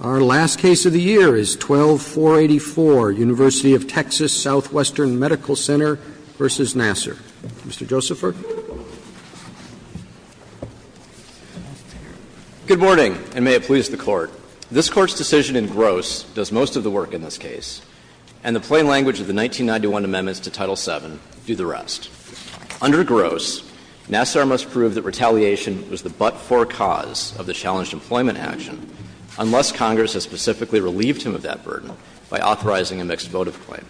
Our last case of the year is 12-484, University of Texas Southwestern Medical Center v. Nassar. Mr. Josepher. Good morning, and may it please the Court. This Court's decision in Gross does most of the work in this case, and the plain language of the 1991 amendments to Title VII do the rest. Under Gross, Nassar must prove that retaliation was the but-for cause of the challenged employment action unless Congress has specifically relieved him of that burden by authorizing a mixed votive claim.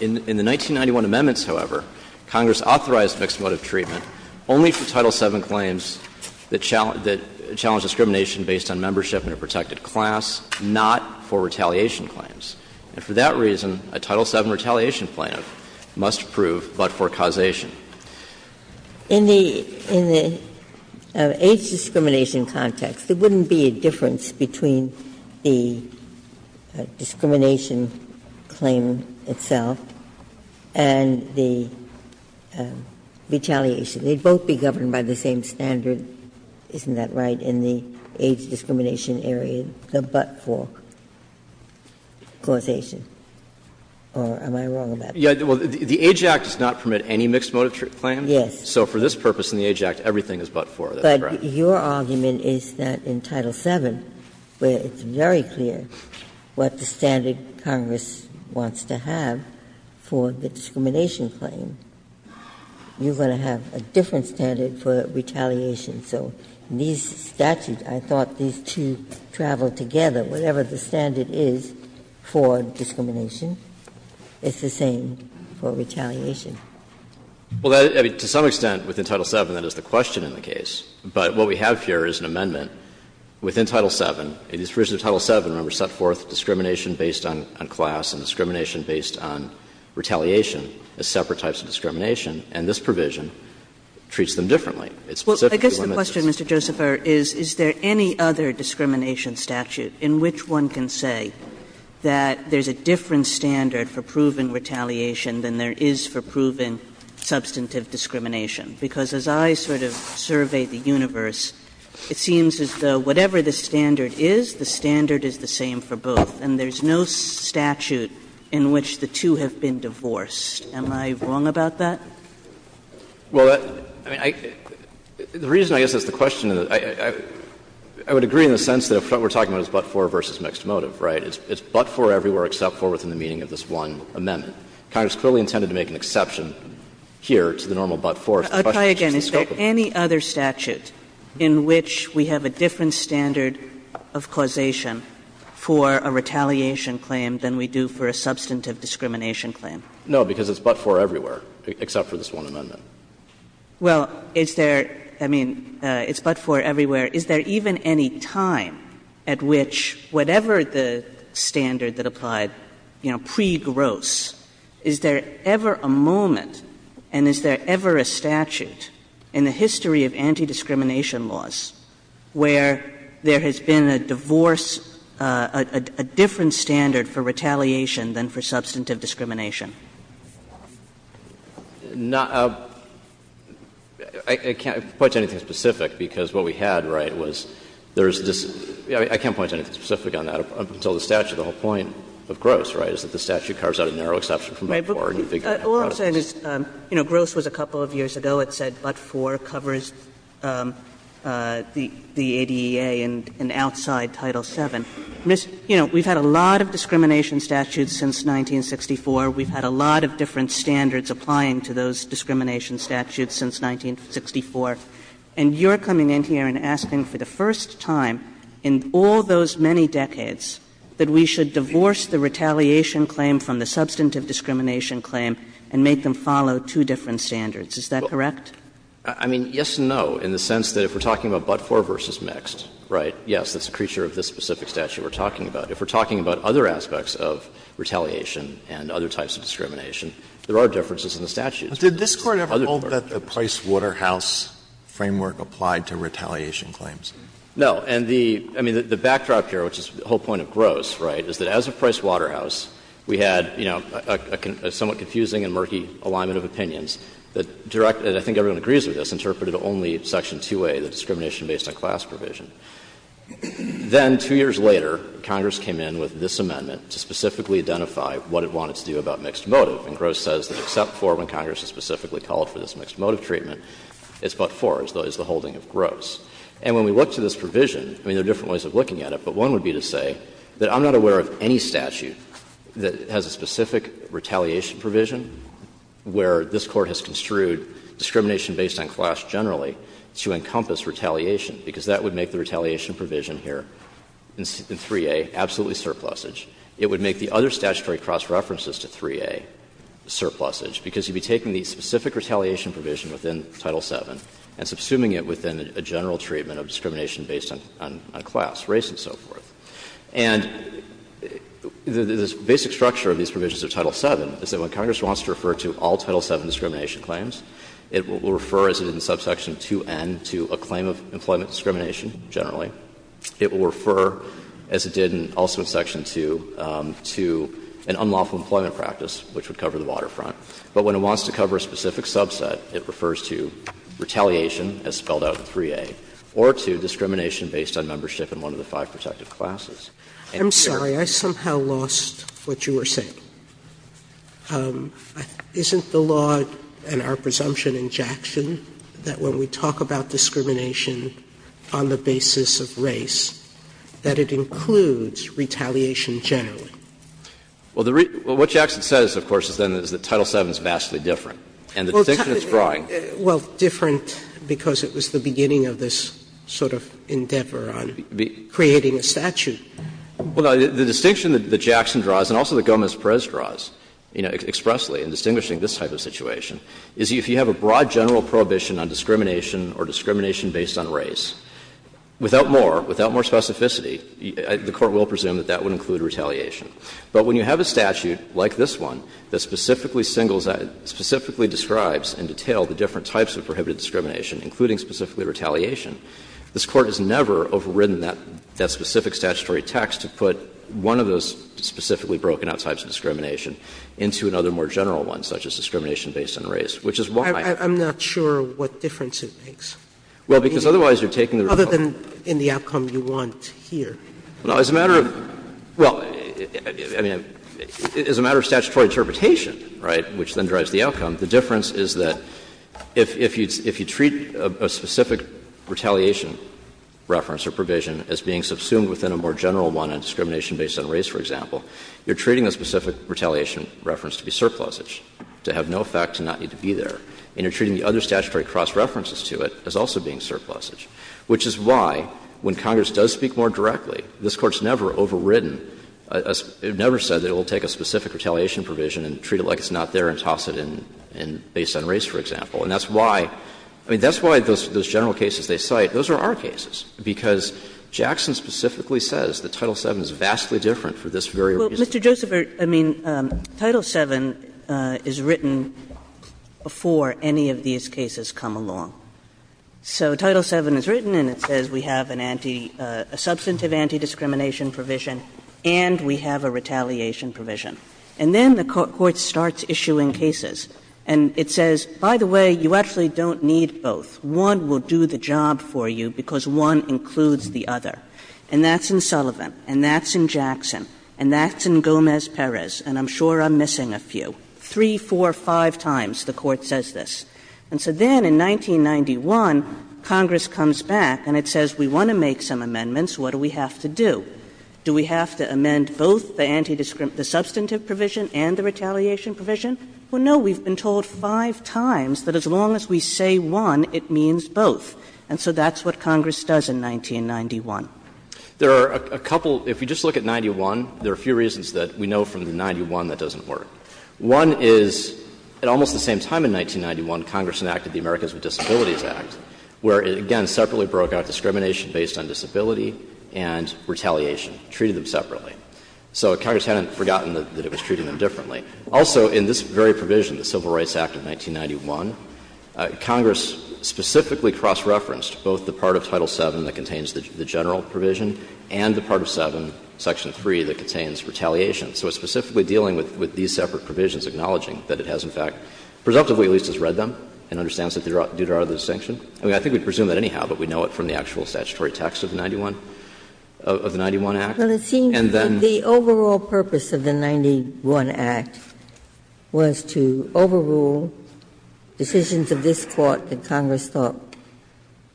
In the 1991 amendments, however, Congress authorized mixed votive treatment only for Title VII claims that challenged discrimination based on membership in a protected class, not for retaliation claims. And for that reason, a Title VII retaliation plan must prove but-for causation. In the age discrimination context, there wouldn't be a difference between the discrimination claim itself and the retaliation. They'd both be governed by the same standard, isn't that right, in the age discrimination area, the but-for? Gannon, or am I wrong about that? Well, the Age Act does not permit any mixed votive claim. Yes. So for this purpose in the Age Act, everything is but-for, that's correct. But your argument is that in Title VII, where it's very clear what the standard Congress wants to have for the discrimination claim, you're going to have a different standard for retaliation. So in these statutes, I thought these two traveled together. Whatever the standard is for discrimination, it's the same for retaliation. Well, to some extent within Title VII, that is the question in the case. But what we have here is an amendment within Title VII. In the provision of Title VII, remember, it set forth discrimination based on class and discrimination based on retaliation as separate types of discrimination, and this provision treats them differently. It specifically limits us. Kagan. Kagan. Well, I guess the question, Mr. Josepher, is, is there any other discrimination statute in which one can say that there's a different standard for proven retaliation than there is for proven substantive discrimination, because as I sort of survey the universe, it seems as though whatever the standard is, the standard is the same for both, and there's no statute in which the two have been divorced. Am I wrong about that? Well, I mean, the reason I guess that's the question, I would agree in the sense that what we're talking about is but-for versus mixed motive, right? It's but-for everywhere except for within the meaning of this one amendment. Congress clearly intended to make an exception here to the normal but-for. Kagan. Is there any other statute in which we have a different standard of causation for a retaliation claim than we do for a substantive discrimination claim? No, because it's but-for everywhere except for this one amendment. Well, is there – I mean, it's but-for everywhere. Is there even any time at which whatever the standard that applied, you know, pre-Gross, is there ever a moment and is there ever a statute in the history of anti-discrimination laws where there has been a divorce, a different standard for retaliation than for substantive discrimination? I can't point to anything specific because what we had, right, was there's this – I can't point to anything specific on that up until the statute. The whole point of Gross, right, is that the statute carves out a narrow exception from but-for and you figure out how to do this. All I'm saying is, you know, Gross was a couple of years ago. It said but-for covers the ADEA and outside Title VII. You know, we've had a lot of discrimination statutes since 1964. We've had a lot of different standards applying to those discrimination statutes since 1964. And you're coming in here and asking for the first time in all those many decades that we should divorce the retaliation claim from the substantive discrimination claim and make them follow two different standards. Is that correct? I mean, yes and no, in the sense that if we're talking about but-for versus mixed, right, yes, that's a creature of this specific statute we're talking about. If we're talking about other aspects of retaliation and other types of discrimination, there are differences in the statute. Alito, did this Court ever hold that the Price-Waterhouse framework applied to retaliation claims? No. And the – I mean, the backdrop here, which is the whole point of Gross, right, is that as of Price-Waterhouse, we had, you know, a somewhat confusing and murky alignment of opinions that direct – and I think everyone agrees with this – interpreted only section 2A, the discrimination based on class provision. Then, two years later, Congress came in with this amendment to specifically identify what it wanted to do about mixed motive. And Gross says that except for when Congress has specifically called for this mixed motive treatment, it's but-for, as though it's the holding of Gross. And when we look to this provision, I mean, there are different ways of looking at it, but one would be to say that I'm not aware of any statute that has a specific retaliation provision where this Court has construed discrimination based on class generally to encompass retaliation, because that would make the retaliation provision here in 3A absolutely surplusage. It would make the other statutory cross-references to 3A surplusage, because you'd be taking the specific retaliation provision within Title VII and subsuming it within a general treatment of discrimination based on class, race, and so forth. And the basic structure of these provisions of Title VII is that when Congress wants to refer to all Title VII discrimination claims, it will refer as it is in substance in Section 2N to a claim of employment discrimination, generally. It will refer, as it did also in Section 2, to an unlawful employment practice, which would cover the waterfront. But when it wants to cover a specific subset, it refers to retaliation, as spelled out in 3A, or to discrimination based on membership in one of the five protective classes. Sotomayor, I'm sorry, I somehow lost what you were saying. Isn't the law, and our presumption in Jackson, that when we talk about discrimination on the basis of race, that it includes retaliation generally? Well, what Jackson says, of course, is then is that Title VII is vastly different. And the distinction it's drawing. Well, different because it was the beginning of this sort of endeavor on creating a statute. Well, the distinction that Jackson draws, and also that Gomez-Perez draws expressly in distinguishing this type of situation, is if you have a broad general prohibition on discrimination or discrimination based on race, without more, without more specificity, the Court will presume that that would include retaliation. But when you have a statute like this one that specifically singles out, specifically describes in detail the different types of prohibited discrimination, including specifically retaliation, this Court has never overridden that specific statutory text to put one of those specifically broken-out types of discrimination into another more general one, such as discrimination based on race, which is why. I'm not sure what difference it makes. Well, because otherwise you're taking the result. Other than in the outcome you want here. Well, as a matter of – well, I mean, as a matter of statutory interpretation, right, which then drives the outcome, the difference is that if you treat a statute with a specific retaliation reference or provision as being subsumed within a more general one on discrimination based on race, for example, you're treating a specific retaliation reference to be surplusage, to have no effect and not need to be there, and you're treating the other statutory cross-references to it as also being surplusage, which is why, when Congress does speak more directly, this Court's never overridden – never said it will take a specific retaliation provision and treat it like it's not there and toss it in based on race, for example. And that's why – I mean, that's why those general cases they cite, those are our cases, because Jackson specifically says that Title VII is vastly different for this very reason. Kagan. Well, Mr. Joseph, I mean, Title VII is written before any of these cases come along. So Title VII is written and it says we have an anti – a substantive anti-discrimination provision, and we have a retaliation provision. And then the Court starts issuing cases, and it says, by the way, you actually don't need both. One will do the job for you because one includes the other. And that's in Sullivan, and that's in Jackson, and that's in Gomez-Perez, and I'm sure I'm missing a few. Three, four, five times the Court says this. And so then in 1991, Congress comes back and it says we want to make some amendments. What do we have to do? Do we have to amend both the anti-discrimination – the substantive provision and the retaliation provision? Well, no. We've been told five times that as long as we say one, it means both. And so that's what Congress does in 1991. There are a couple – if you just look at 91, there are a few reasons that we know from the 91 that doesn't work. One is at almost the same time in 1991, Congress enacted the Americans with Disabilities Act, where it again separately broke out discrimination based on disability and retaliation, treated them separately. So Congress hadn't forgotten that it was treating them differently. Also, in this very provision, the Civil Rights Act of 1991, Congress specifically cross-referenced both the part of Title VII that contains the general provision and the part of VII, Section 3, that contains retaliation. So it's specifically dealing with these separate provisions, acknowledging that it has in fact, presumptively at least, has read them and understands that they do draw the distinction. I mean, I think we presume that anyhow, but we know it from the actual statutory text of 91. Of the 91 Act. And then the overall purpose of the 91 Act was to overrule decisions of this Court that Congress thought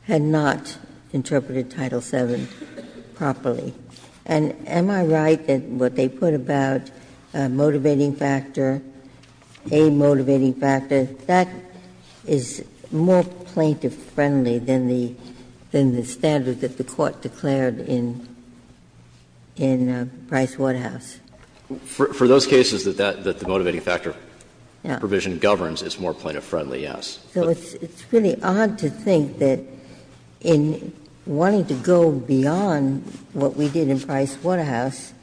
had not interpreted Title VII properly. And am I right that what they put about a motivating factor, a motivating factor, that is more plaintiff-friendly than the standard that the Court declared in Price Waterhouse? For those cases that the motivating factor provision governs, it's more plaintiff-friendly, yes. So it's really odd to think that in wanting to go beyond what we did in Price Waterhouse,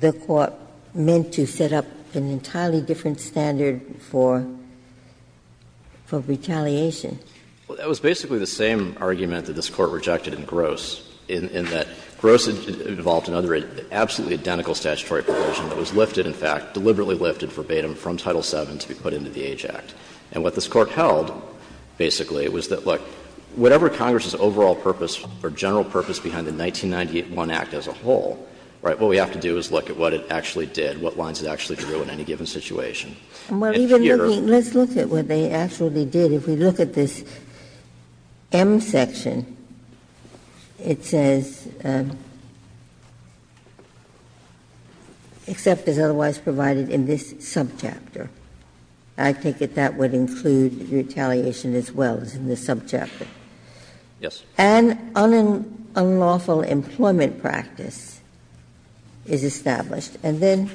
the Court meant to set up an entirely different standard for retaliation. Well, that was basically the same argument that this Court rejected in Gross, in that Gross involved another absolutely identical statutory provision that was lifted, in fact, deliberately lifted verbatim from Title VII to be put into the Age Act. And what this Court held, basically, was that, look, whatever Congress's overall purpose or general purpose behind the 1991 Act as a whole, right, what we have to do is look at what it actually did, what lines it actually drew in any given situation. And here. And even looking, let's look at what they actually did. If we look at this M section, it says, except as otherwise provided in this subchapter. I take it that would include retaliation as well as in the subchapter. Yes. And unlawful employment practice is established. And then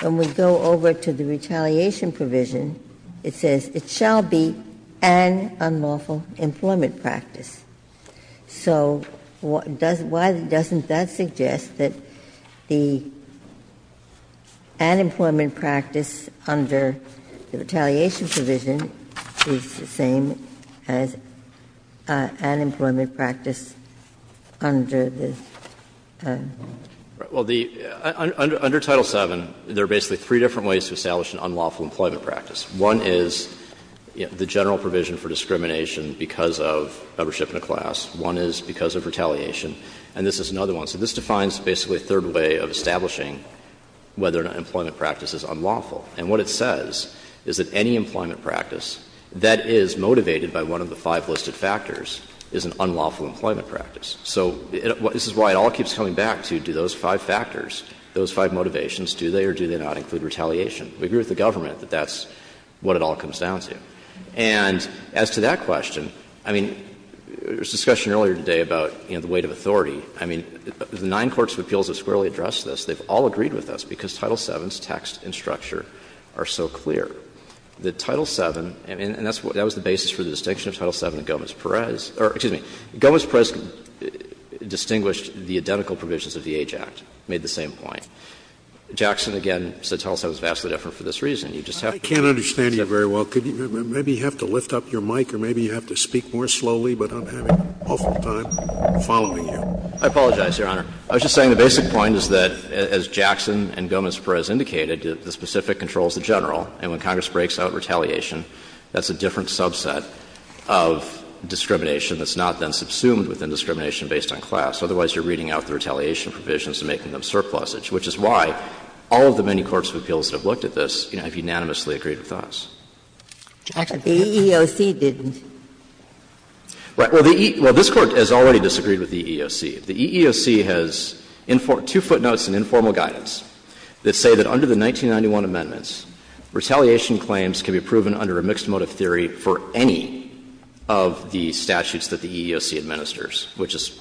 when we go over to the retaliation provision, it says, it shall be an unlawful employment practice. So why doesn't that suggest that the unemployment practice under the retaliation provision is the same as unemployment practice under the unlawful employment practice? Under Title VII, there are basically three different ways to establish an unlawful employment practice. One is the general provision for discrimination because of membership in a class. One is because of retaliation. And this is another one. So this defines basically a third way of establishing whether an employment practice is unlawful. And what it says is that any employment practice that is motivated by one of the five listed factors is an unlawful employment practice. So the question is, do the five motivations, do they or do they not include retaliation? We agree with the government that that's what it all comes down to. And as to that question, I mean, there was discussion earlier today about, you know, the weight of authority. I mean, the nine courts of appeals have squarely addressed this. They've all agreed with us because Title VII's text and structure are so clear. The Title VII, and that was the basis for the distinction of Title VII and Gomez-Perez or, excuse me, Gomez-Perez distinguished the identical provisions of the Age Act, made the same point. Jackson, again, said Title VII is vastly different for this reason. You just have to understand. Scalia, I can't understand you very well. Maybe you have to lift up your mic or maybe you have to speak more slowly, but I'm having an awful time following you. I apologize, Your Honor. I was just saying the basic point is that, as Jackson and Gomez-Perez indicated, the specific controls the general. And when Congress breaks out retaliation, that's a different subset of discrimination that's not then subsumed within discrimination based on class. Otherwise, you're reading out the retaliation provisions and making them surplusage, which is why all of the many courts of appeals that have looked at this, you know, have unanimously agreed with us. Ginsburg, the EEOC didn't. Well, this Court has already disagreed with the EEOC. The EEOC has two footnotes in informal guidance that say that under the 1991 amendments, retaliation claims can be proven under a mixed motive theory for any of the statutes that the EEOC administers, which is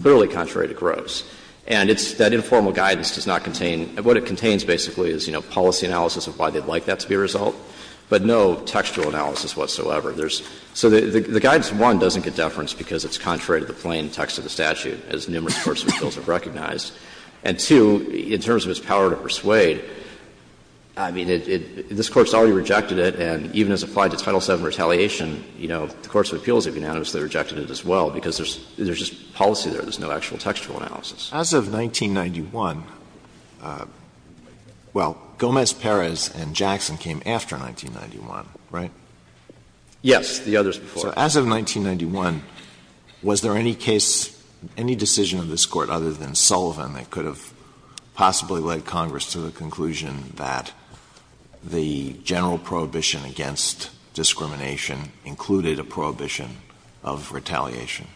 clearly contrary to Gross. And it's that informal guidance does not contain — what it contains basically is, you know, policy analysis of why they'd like that to be a result, but no textual analysis whatsoever. There's — so the guidance, one, doesn't get deference because it's contrary to the plain text of the statute, as numerous courts of appeals have recognized. And, two, in terms of its power to persuade, I mean, it — this Court's already rejected it, and even as applied to Title VII retaliation, you know, the courts of appeals have unanimously rejected it as well, because there's just policy there. There's no actual textual analysis. Alito, as of 1991 — well, Gomez-Perez and Jackson came after 1991, right? Yes, the others before. So as of 1991, was there any case, any decision of this Court, other than Sullivan, that could have possibly led Congress to the conclusion that the general prohibition against discrimination included a prohibition of retaliation?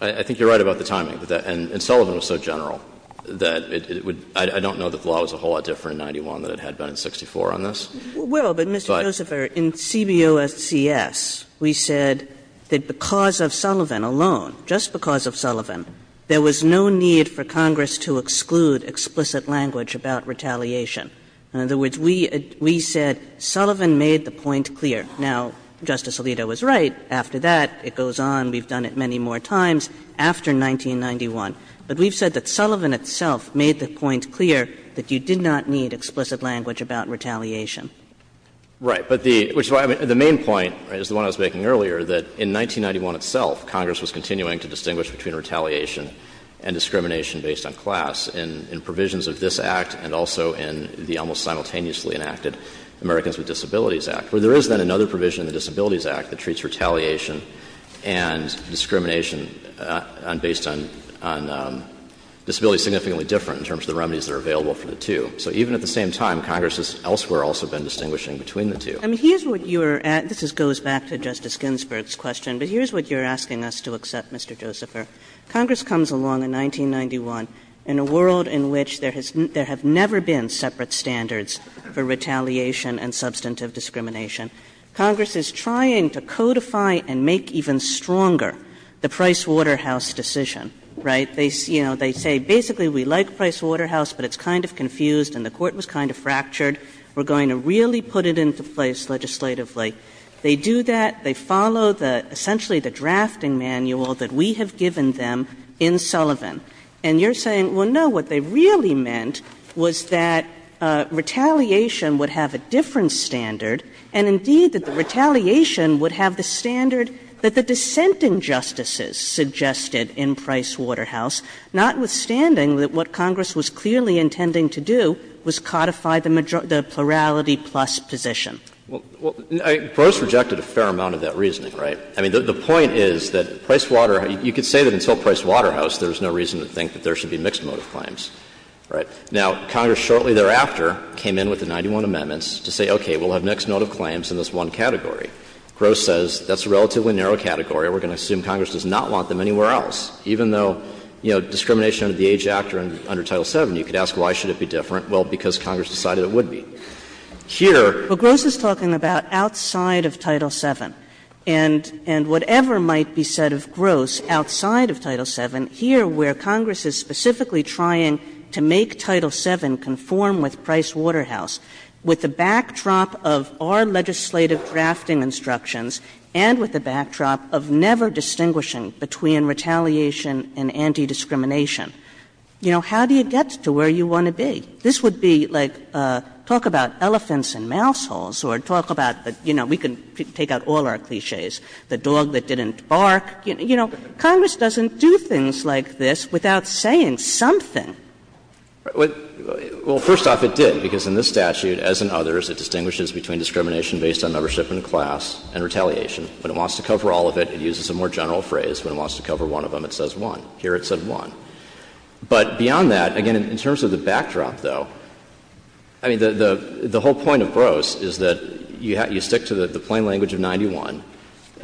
I think you're right about the timing of that. And Sullivan was so general that it would — I don't know that the law was a whole lot different in 91 than it had been in 64 on this. Well, but, Mr. Joseph, in CBOSCS, we said that because of Sullivan alone, just because of Sullivan, there was no need for Congress to exclude explicit language about retaliation. In other words, we said Sullivan made the point clear. Now, Justice Alito was right. After that, it goes on. We've done it many more times after 1991. But we've said that Sullivan itself made the point clear that you did not need explicit language about retaliation. Right. But the — which is why the main point is the one I was making earlier, that in 1991 itself, Congress was continuing to distinguish between retaliation and discrimination based on class in provisions of this Act and also in the almost simultaneously enacted Americans with Disabilities Act. Where there is, then, another provision in the Disabilities Act that treats retaliation and discrimination based on disabilities significantly different in terms of the remedies that are available for the two. So even at the same time, Congress has elsewhere also been distinguishing between the two. I mean, here's what you're — this goes back to Justice Ginsburg's question. But here's what you're asking us to accept, Mr. Josepher. Congress comes along in 1991 in a world in which there has — there have never been Congress is trying to codify and make even stronger the Pricewaterhouse decision. Right. They — you know, they say, basically, we like Pricewaterhouse, but it's kind of confused and the Court was kind of fractured. We're going to really put it into place legislatively. They do that. They follow the — essentially the drafting manual that we have given them in Sullivan. And you're saying, well, no, what they really meant was that retaliation would have a different standard, and, indeed, that the retaliation would have the standard that the dissenting justices suggested in Pricewaterhouse, notwithstanding that what Congress was clearly intending to do was codify the majority — the plurality-plus position. Well, I — Prose rejected a fair amount of that reasoning, right? I mean, the point is that Pricewaterhouse — you could say that until Pricewaterhouse, there was no reason to think that there should be mixed motive claims. Right. Now, Congress shortly thereafter came in with the 91 amendments to say, okay, we'll have mixed motive claims in this one category. Gross says that's a relatively narrow category. We're going to assume Congress does not want them anywhere else. Even though, you know, discrimination under the Age Act or under Title VII, you could ask, why should it be different? Well, because Congress decided it would be. Here — Kagan. Well, Gross is talking about outside of Title VII. And — and whatever might be said of Gross outside of Title VII, here, where Congress is specifically trying to make Title VII conform with Pricewaterhouse with the backdrop of our legislative drafting instructions and with the backdrop of never distinguishing between retaliation and anti-discrimination. You know, how do you get to where you want to be? This would be like talk about elephants and mouseholes or talk about the — you know, we can take out all our clichés. The dog that didn't bark. You know, Congress doesn't do things like this without saying something. Well, first off, it did, because in this statute, as in others, it distinguishes between discrimination based on membership in a class and retaliation. When it wants to cover all of it, it uses a more general phrase. When it wants to cover one of them, it says one. Here, it said one. But beyond that, again, in terms of the backdrop, though, I mean, the — the whole point of Gross is that you have — you stick to the plain language of 91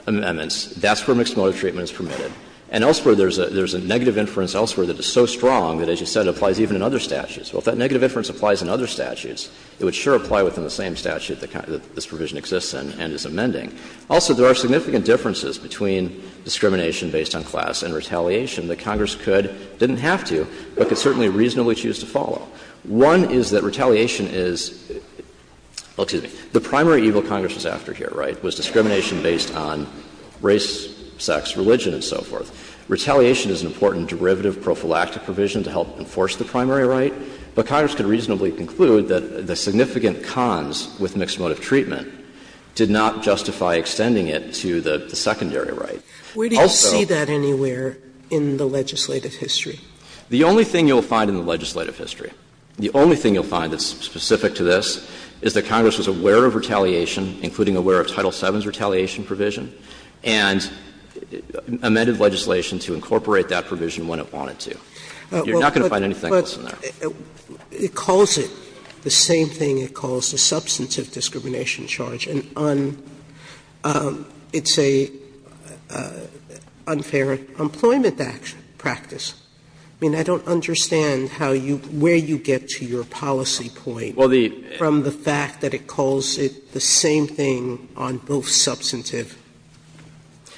amendments. That's where mixed motive treatment is permitted. And elsewhere, there's a — there's a negative inference elsewhere that is so strong that, as you said, it applies even in other statutes. Well, if that negative inference applies in other statutes, it would sure apply within the same statute that this provision exists in and is amending. Also, there are significant differences between discrimination based on class and retaliation that Congress could — didn't have to, but could certainly reasonably choose to follow. One is that retaliation is — well, excuse me — the primary evil Congress was after here, right, was discrimination based on race, sex, religion, and so forth. Retaliation is an important derivative prophylactic provision to help enforce the primary right, but Congress could reasonably conclude that the significant cons with mixed motive treatment did not justify extending it to the secondary right. Also — Sotomayor, where do you see that anywhere in the legislative history? The only thing you'll find in the legislative history, the only thing you'll find that's specific to this is that Congress was aware of retaliation, including aware of Title VII's retaliation provision, and amended legislation to incorporate that provision when it wanted to. You're not going to find anything else in there. Sotomayor, it calls it the same thing it calls the substantive discrimination charge, and it's an unfair employment practice. I mean, I don't understand how you — where you get to your policy point from the fact that it calls it the same thing on both substantive.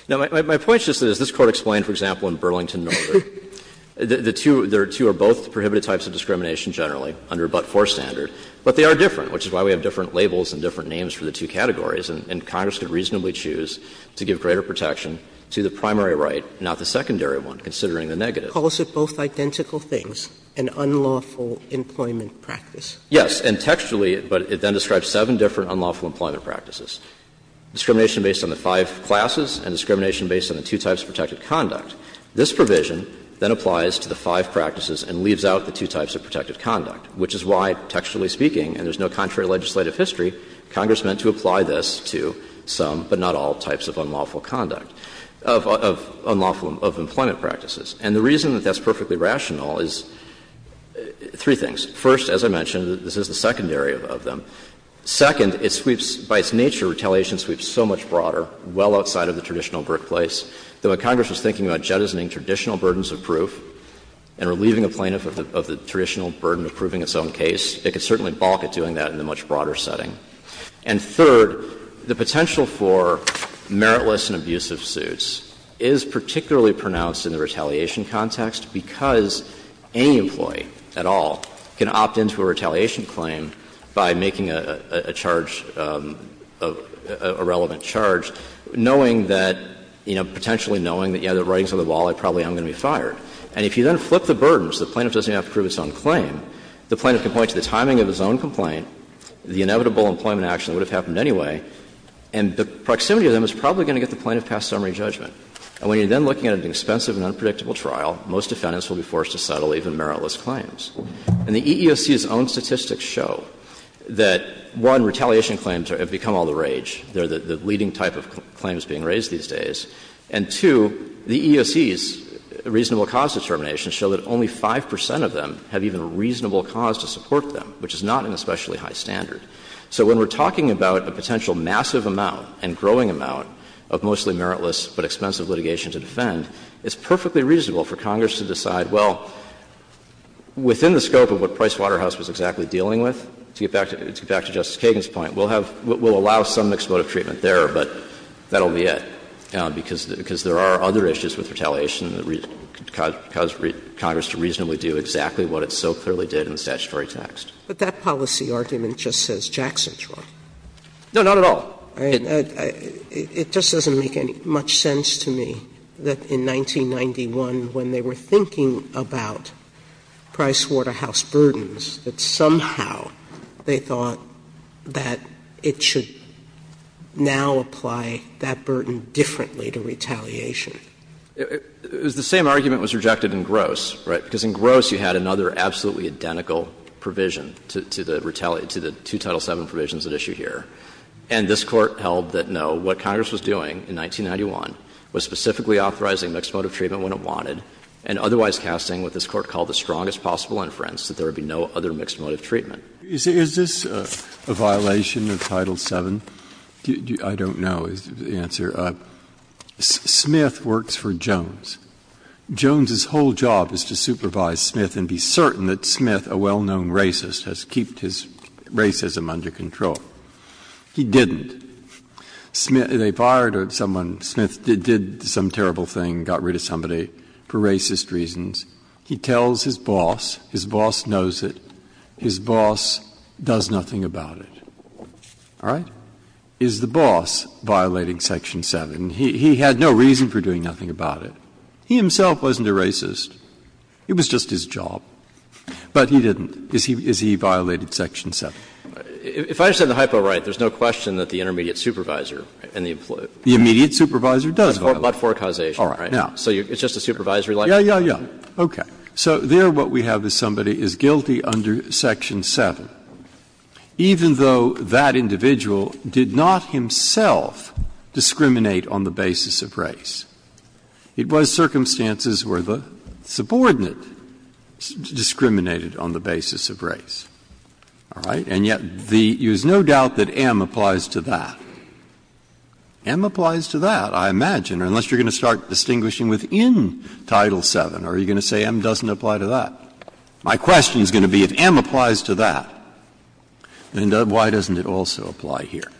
Now, my point is just that, as this Court explained, for example, in Burlington Military, the two — there are two or both prohibited types of discrimination generally under a But-For standard, but they are different, which is why we have different labels and different names for the two categories, and Congress could reasonably choose to give greater protection to the primary right, not the secondary one, considering Sotomayor, it calls it both identical things, an unlawful employment practice. Yes. And textually, but it then describes seven different unlawful employment practices, discrimination based on the five classes and discrimination based on the two types of protected conduct. This provision then applies to the five practices and leaves out the two types of protected conduct, which is why, textually speaking, and there's no contrary legislative history, Congress meant to apply this to some, but not all, types of unlawful conduct, of unlawful — of employment practices. And the reason that that's perfectly rational is three things. First, as I mentioned, this is the secondary of them. Second, it sweeps — by its nature, retaliation sweeps so much broader, well outside of the traditional brick place, that when Congress was thinking about jettisoning traditional burdens of proof and relieving a plaintiff of the traditional burden of proving its own case, it could certainly balk at doing that in a much broader setting. And third, the potential for meritless and abusive suits is particularly pronounced in the retaliation context, because any employee at all can opt into a retaliation claim by making a charge, a relevant charge, knowing that, you know, potentially knowing that, yes, the writing's on the wall, I probably am going to be fired. And if you then flip the burdens, the plaintiff doesn't even have to prove its own claim. The plaintiff can point to the timing of his own complaint, the inevitable employment action that would have happened anyway, and the proximity of them is probably going to get the plaintiff past summary judgment. And when you're then looking at an expensive and unpredictable trial, most defendants will be forced to settle even meritless claims. And the EEOC's own statistics show that, one, retaliation claims have become all the rage. They're the leading type of claims being raised these days. And, two, the EEOC's reasonable cause determinations show that only 5 percent of them have even a reasonable cause to support them, which is not an especially high standard. So when we're talking about a potential massive amount and growing amount of mostly meritless but expensive litigation to defend, it's perfectly reasonable for Congress to decide, well, within the scope of what Pricewaterhouse was exactly dealing with, to get back to Justice Kagan's point, we'll have — we'll allow some expletive treatment there, but that'll be it. Because there are other issues with retaliation that could cause Congress to reasonably do exactly what it so clearly did in the statutory text. Sotomayor But that policy argument just says Jackson's wrong. Gannon No, not at all. Sotomayor It just doesn't make any much sense to me that in 1991, when they were thinking about Pricewaterhouse burdens, that somehow they thought that it should now apply that burden differently to retaliation. Jay It was the same argument was rejected in Gross, right? Because in Gross, you had another absolutely identical provision to the retaliation — to the two Title VII provisions at issue here. And this Court held that, no, what Congress was doing in 1991 was specifically authorizing mixed-motive treatment when it wanted, and otherwise casting what this Court called the strongest possible inference, that there would be no other mixed-motive treatment. Breyer Is this a violation of Title VII? I don't know the answer. Smith works for Jones. Jones's whole job is to supervise Smith and be certain that Smith, a well-known racist, has kept his racism under control. He didn't. Smith — they fired someone. Smith did some terrible thing, got rid of somebody for racist reasons. He tells his boss. His boss knows it. His boss does nothing about it. All right? Is the boss violating Section VII? He had no reason for doing nothing about it. He himself wasn't a racist. It was just his job. But he didn't. Is he violated Section VII? Jay If I understand the hypo right, there's no question that the intermediate supervisor and the employee. Breyer The immediate supervisor does violate it. Jay But for causation, right? So it's just a supervisory liability? Breyer Yes, yes, yes. Okay. So there what we have is somebody is guilty under Section VII, even though that individual did not himself discriminate on the basis of race. It was circumstances where the subordinate discriminated on the basis of race. All right? And yet the — there's no doubt that M applies to that. M applies to that, I imagine, unless you're going to start distinguishing within Title VII. Are you going to say M doesn't apply to that? My question is going to be if M applies to that, then why doesn't it also? Why doesn't M also apply here?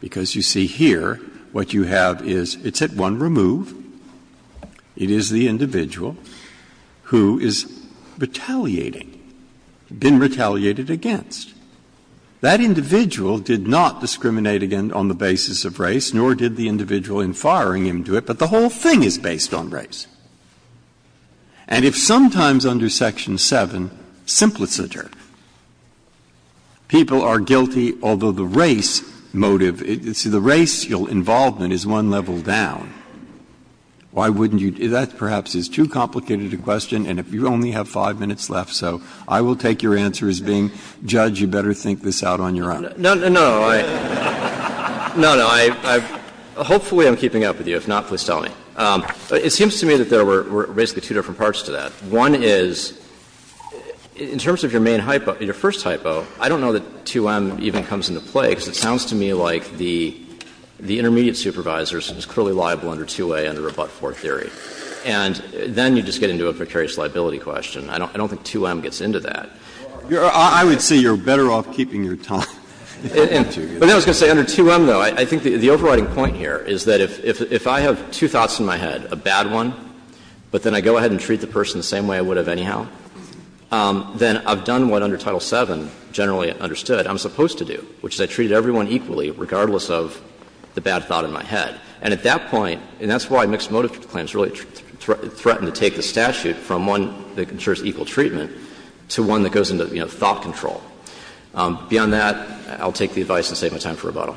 Because you see here what you have is it's at one remove. It is the individual who is retaliating, been retaliated against. That individual did not discriminate again on the basis of race, nor did the individual in firing him do it, but the whole thing is based on race. And if sometimes under Section VII, simpliciter, people are guilty, although the race motive, the racial involvement is one level down, why wouldn't you — that perhaps is too complicated a question, and if you only have 5 minutes left, so I will take your answer as being, Judge, you better think this out on your own. No, no, no, I — no, no, I — hopefully I'm keeping up with you. If not, please tell me. It seems to me that there were basically two different parts to that. One is, in terms of your main hypo, your first hypo, I don't know that 2M even comes into play, because it sounds to me like the intermediate supervisor is clearly liable under 2A under a but-for theory, and then you just get into a precarious liability question. I don't think 2M gets into that. I would say you're better off keeping your time. But I was going to say under 2M, though, I think the overriding point here is that if I have two thoughts in my head, a bad one, but then I go ahead and treat the person the same way I would have anyhow, then I've done what under Title VII generally understood I'm supposed to do, which is I treated everyone equally regardless of the bad thought in my head. And at that point, and that's why mixed motive claims really threaten to take the goes into, you know, thought control. Beyond that, I'll take the advice and save my time for rebuttal.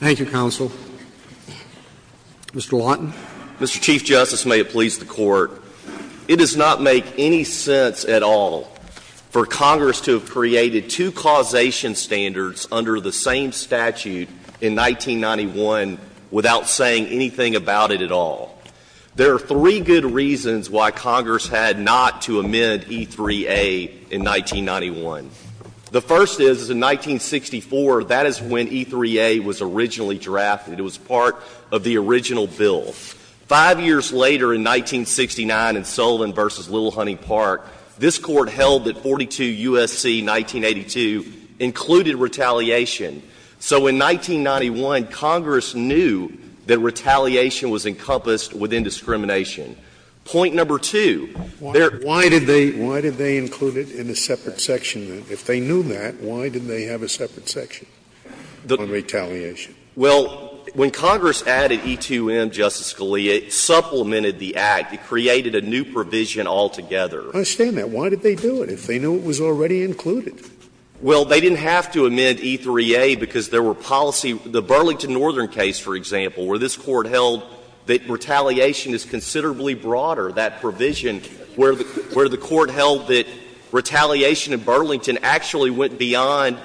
Thank you, counsel. Mr. Lawton. Mr. Chief Justice, may it please the Court. It does not make any sense at all for Congress to have created two causation standards under the same statute in 1991 without saying anything about it at all. There are three good reasons why Congress had not to amend E3A in 1991. The first is, in 1964, that is when E3A was originally drafted. It was part of the original bill. Five years later in 1969 in Sullivan versus Little Honey Park, this court held that 42 U.S.C. 1982 included retaliation. So in 1991, Congress knew that retaliation was encompassed within discrimination. Point number two, there are two reasons why it was not included in E3A. Why did they include it in a separate section? If they knew that, why didn't they have a separate section on retaliation? Well, when Congress added E2M, Justice Scalia, it supplemented the Act. It created a new provision altogether. I understand that. Why did they do it if they knew it was already included? Well, they didn't have to amend E3A because there were policy — the Burlington Northern case, for example, where this court held that retaliation is considerably broader, that provision, where the court held that retaliation in Burlington actually went beyond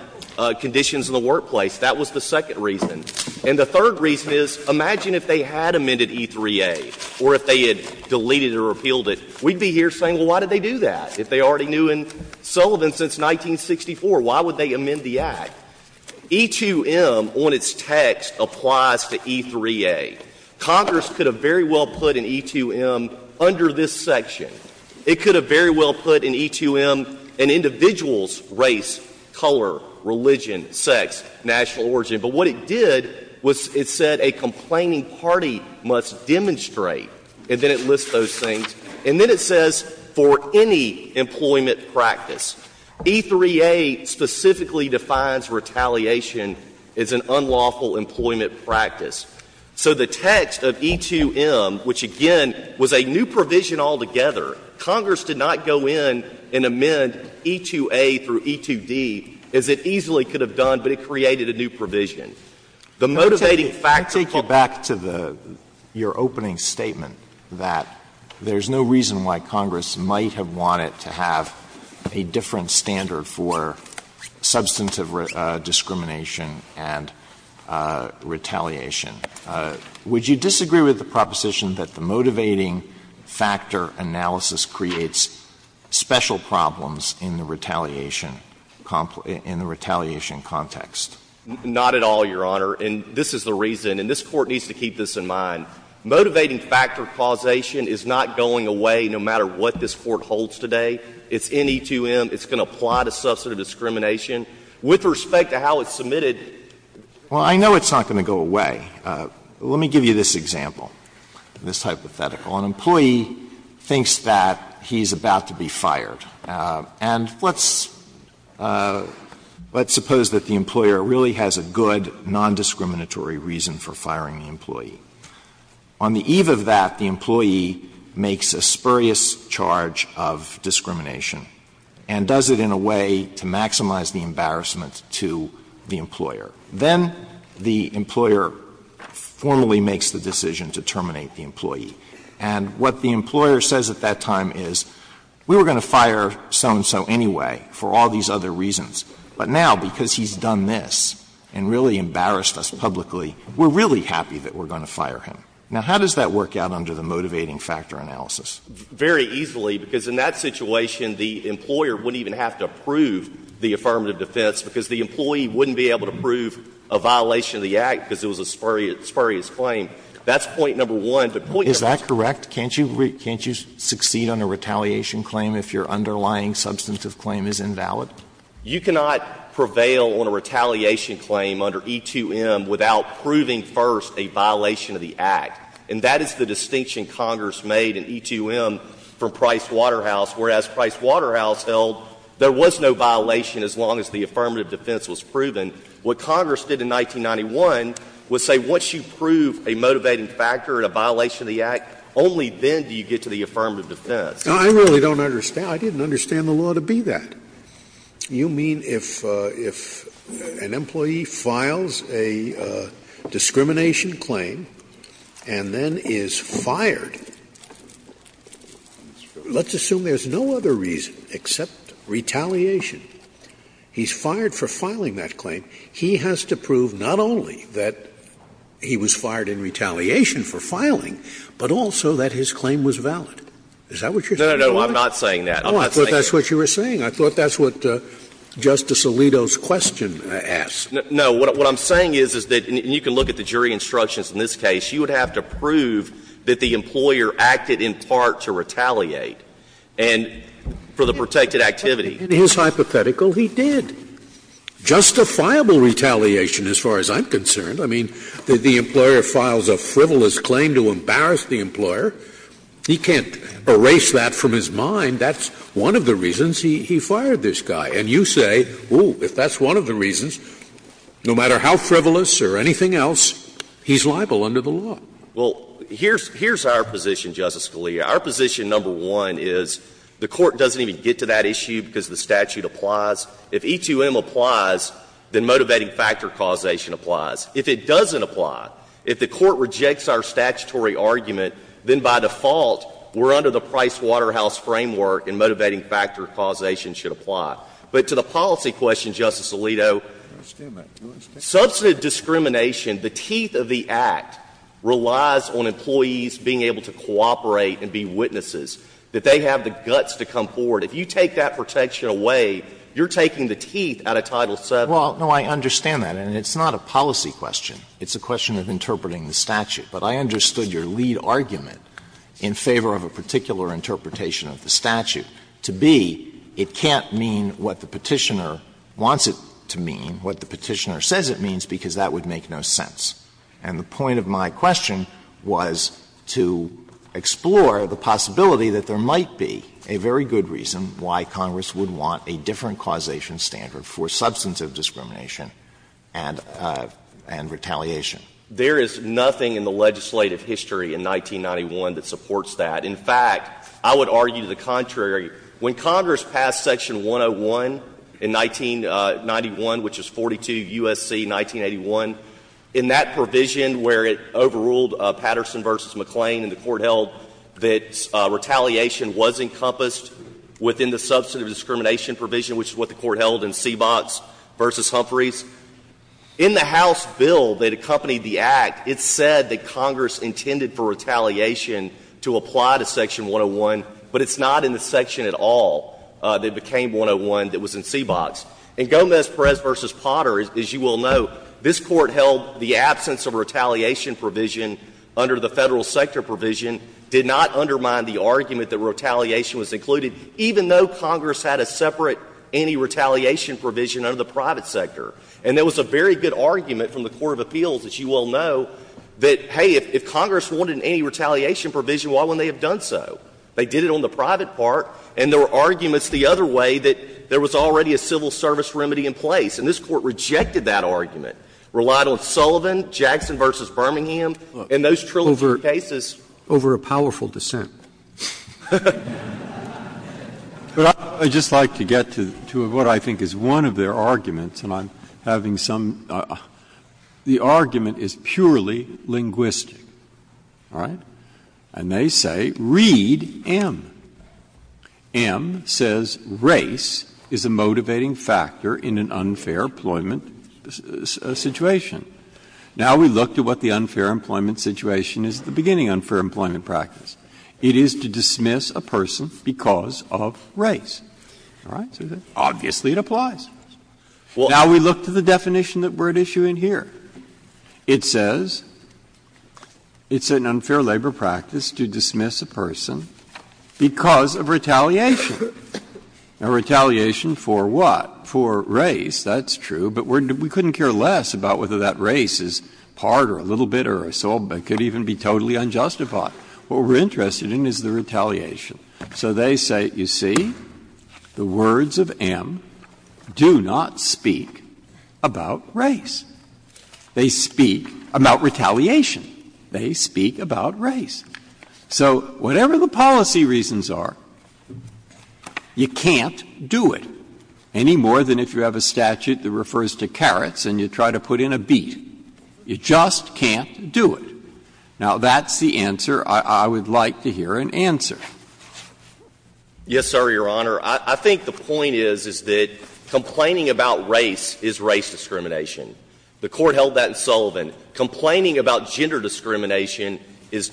conditions in the workplace. That was the second reason. And the third reason is, imagine if they had amended E3A or if they had deleted or repealed it. We'd be here saying, well, why did they do that if they already knew in Sullivan since 1964, why would they amend the Act? E2M, on its text, applies to E3A. Congress could have very well put an E2M under this section. It could have very well put an E2M in individuals' race, color, religion, sex, national origin. But what it did was it said a complaining party must demonstrate, and then it lists those things. And then it says, for any employment practice. E3A specifically defines retaliation as an unlawful employment practice. So the text of E2M, which again was a new provision altogether, Congress did not go in and amend E2A through E2D as it easily could have done, but it created a new provision. The motivating factor for the statute of limitations is the fact that it's a new provision. Alito, there's no reason why Congress might have wanted to have a different standard for substantive discrimination and retaliation. Would you disagree with the proposition that the motivating factor analysis creates special problems in the retaliation context? Not at all, Your Honor, and this is the reason, and this Court needs to keep this in mind. Motivating factor causation is not going away no matter what this Court holds today. It's in E2M. It's going to apply to substantive discrimination. With respect to how it's submitted, it's not going to go away. Let me give you this example, this hypothetical. An employee thinks that he's about to be fired. And let's suppose that the employer really has a good, nondiscriminatory reason for firing the employee. On the eve of that, the employee makes a spurious charge of discrimination and does it in a way to maximize the embarrassment to the employer. Then the employer formally makes the decision to terminate the employee. And what the employer says at that time is, we were going to fire so-and-so anyway for all these other reasons, but now, because he's done this and really embarrassed us publicly, we're really happy that we're going to fire him. Now, how does that work out under the motivating factor analysis? Very easily, because in that situation, the employer wouldn't even have to approve the affirmative defense because the employee wouldn't be able to prove a violation of the Act because it was a spurious claim. That's point number one. But point number two. Is that correct? Can't you succeed on a retaliation claim if your underlying substantive claim is invalid? You cannot prevail on a retaliation claim under E2M without proving first a violation of the Act. And that is the distinction Congress made in E2M for Price Waterhouse, whereas Price Waterhouse held there was no violation as long as the affirmative defense was proven. What Congress did in 1991 was say, once you prove a motivating factor and a violation of the Act, only then do you get to the affirmative defense. Scalia. I really don't understand. I didn't understand the law to be that. You mean if an employee files a discrimination claim and then is fired, let's assume there's no other reason except retaliation. He's fired for filing that claim. He has to prove not only that he was fired in retaliation for filing, but also that his claim was valid. Is that what you're saying? No, no, no. I'm not saying that. I'm not saying that. Oh, I thought that's what you were saying. I thought that's what Justice Alito's question asked. No. What I'm saying is, is that you can look at the jury instructions in this case. You would have to prove that the employer acted in part to retaliate and for the protected activity. In his hypothetical, he did. Justifiable retaliation as far as I'm concerned. I mean, the employer files a frivolous claim to embarrass the employer. He can't erase that from his mind. That's one of the reasons he fired this guy. And you say, oh, if that's one of the reasons, no matter how frivolous or anything else, he's liable under the law. Well, here's our position, Justice Scalia. Our position, number one, is the Court doesn't even get to that issue because the statute applies. If E2M applies, then motivating factor causation applies. If it doesn't apply, if the Court rejects our statutory argument, then by default we're under the Price-Waterhouse framework and motivating factor causation should apply. But to the policy question, Justice Alito, substantive discrimination, the teeth of the Act relies on employees being able to cooperate and be witnesses, that they have the guts to come forward. If you take that protection away, you're taking the teeth out of Title VII. Well, no, I understand that. And it's not a policy question. It's a question of interpreting the statute. But I understood your lead argument in favor of a particular interpretation of the statute to be it can't mean what the Petitioner wants it to mean, what the Petitioner says it means, because that would make no sense. And the point of my question was to explore the possibility that there might be a very good reason why Congress would want a different causation standard for substantive discrimination and retaliation. There is nothing in the legislative history in 1991 that supports that. In fact, I would argue the contrary. When Congress passed Section 101 in 1991, which is 42 U.S.C. 1981, in that provision where it overruled Patterson v. McClain and the Court held that retaliation was encompassed within the substantive discrimination provision, which is what the Court held in Seabox v. Humphreys. In the House bill that accompanied the Act, it said that Congress intended for retaliation to apply to Section 101, but it's not in the section at all that became 101 that was in Seabox. In Gomez-Perez v. Potter, as you will know, this Court held the absence of retaliation provision under the Federal sector provision did not undermine the argument that retaliation was included, even though Congress had a separate anti-retaliation provision under the private sector. And there was a very good argument from the Court of Appeals, as you well know, that, hey, if Congress wanted an anti-retaliation provision, why wouldn't they have done so? They did it on the private part, and there were arguments the other way that there was already a civil service remedy in place. And this Court rejected that argument, relied on Sullivan, Jackson v. Birmingham, and those trillion cases. Over a powerful dissent. But I would just like to get to what I think is one of their arguments, and I'm not having some — the argument is purely linguistic, all right? And they say, read M. M says, Race is a motivating factor in an unfair employment situation. Now we look to what the unfair employment situation is at the beginning of unfair employment practice. It is to dismiss a person because of race. All right? Obviously it applies. Now we look to the definition that we're issuing here. It says it's an unfair labor practice to dismiss a person because of retaliation. Now, retaliation for what? For race, that's true. But we couldn't care less about whether that race is part or a little bit or a small bit, could even be totally unjustified. What we're interested in is the retaliation. So they say, you see, the words of M do not speak about race. They speak about retaliation. They speak about race. So whatever the policy reasons are, you can't do it any more than if you have a statute that refers to carrots and you try to put in a beet. You just can't do it. Now, that's the answer I would like to hear in answer. Yes, sir, Your Honor. I think the point is, is that complaining about race is race discrimination. The Court held that in Sullivan. Complaining about gender discrimination is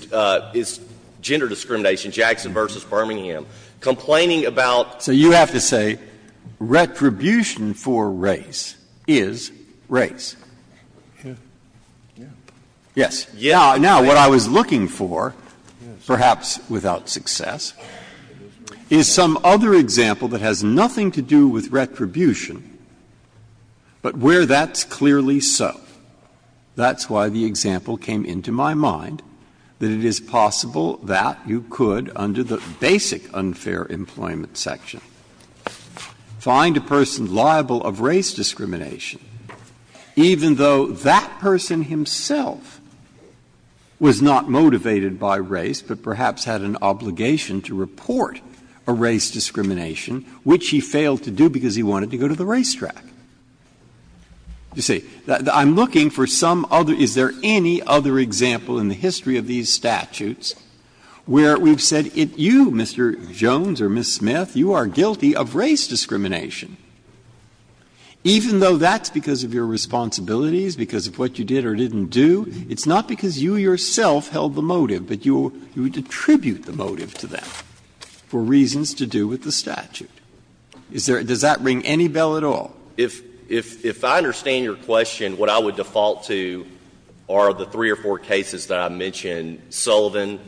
gender discrimination, Jackson v. Birmingham. Complaining about the court held that in Sullivan. So you have to say retribution for race is race. Yes. Now, what I was looking for, perhaps without success, is some other example that has nothing to do with retribution, but where that's clearly so. That's why the example came into my mind, that it is possible that you could, under the basic unfair employment section, find a person liable of race discrimination even though that person himself was not motivated by race, but perhaps had an obligation to report a race discrimination, which he failed to do because he wanted to go to the racetrack. You see, I'm looking for some other — is there any other example in the history of these statutes where we've said, you, Mr. Jones or Ms. Smith, you are guilty of race discrimination? Even though that's because of your responsibilities, because of what you did or didn't do, it's not because you yourself held the motive, but you would attribute the motive to that for reasons to do with the statute. Is there — does that ring any bell at all? If I understand your question, what I would default to are the three or four cases that I mentioned, Sullivan,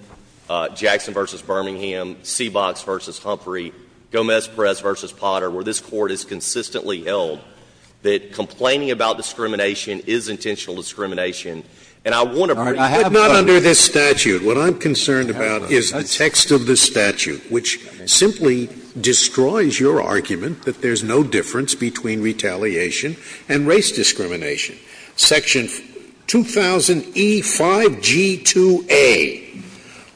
Jackson v. Birmingham, Seabox v. Humphrey, Gomez-Perez v. Potter, where this Court has consistently held that complaining about discrimination is intentional discrimination. And I want to — All right. I have — But not under this statute. What I'm concerned about is the text of the statute, which simply destroys your argument that there's no difference between retaliation and race discrimination. Section 2000E5G2A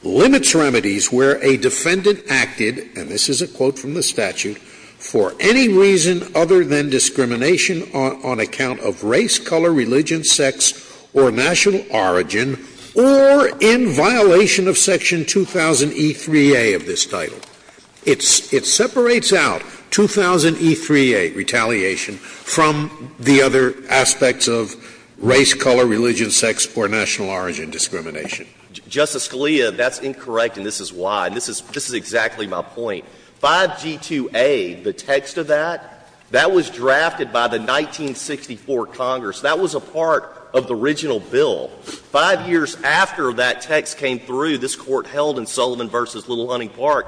limits remedies where a defendant acted — and this is a quote from the statute — for any reason other than discrimination on account of race, color, religion, sex, or national origin, or in violation of Section 2000E3A of this title. It separates out 2000E3A, retaliation, from the other aspects of race, color, religion, sex, or national origin discrimination. Justice Scalia, that's incorrect, and this is why. And this is — this is exactly my point. 5G2A, the text of that, that was drafted by the 1964 Congress. That was a part of the original bill. Five years after that text came through, this Court held in Sullivan v. Little-Hunting Park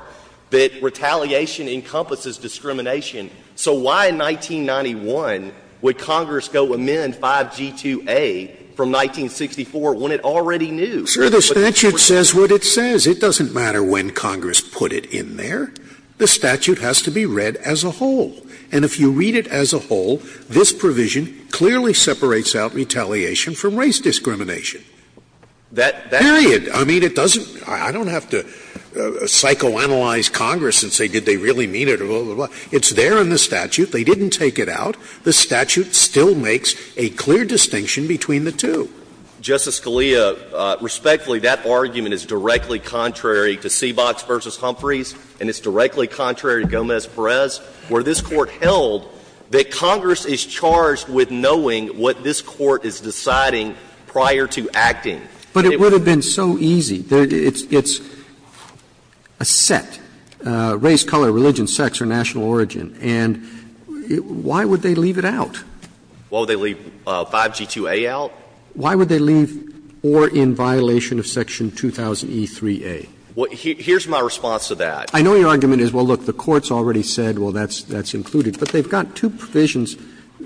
that retaliation encompasses discrimination. So why in 1991 would Congress go amend 5G2A from 1964 when it already knew? Sir, the statute says what it says. It doesn't matter when Congress put it in there. The statute has to be read as a whole. And if you read it as a whole, this provision clearly separates out retaliation from race discrimination. Period. I mean, it doesn't — I don't have to psychoanalyze Congress and say, did they really mean it, or blah, blah, blah. It's there in the statute. They didn't take it out. The statute still makes a clear distinction between the two. Justice Scalia, respectfully, that argument is directly contrary to Seabox v. Humphreys, and it's directly contrary to Gomez-Perez, where this Court held that Congress is charged with knowing what this Court is deciding prior to acting. But it would have been so easy. It's a set, race, color, religion, sex, or national origin. And why would they leave it out? Why would they leave 5G2A out? Why would they leave or in violation of section 2000e3a? Here's my response to that. I know your argument is, well, look, the Court's already said, well, that's included. But they've got two provisions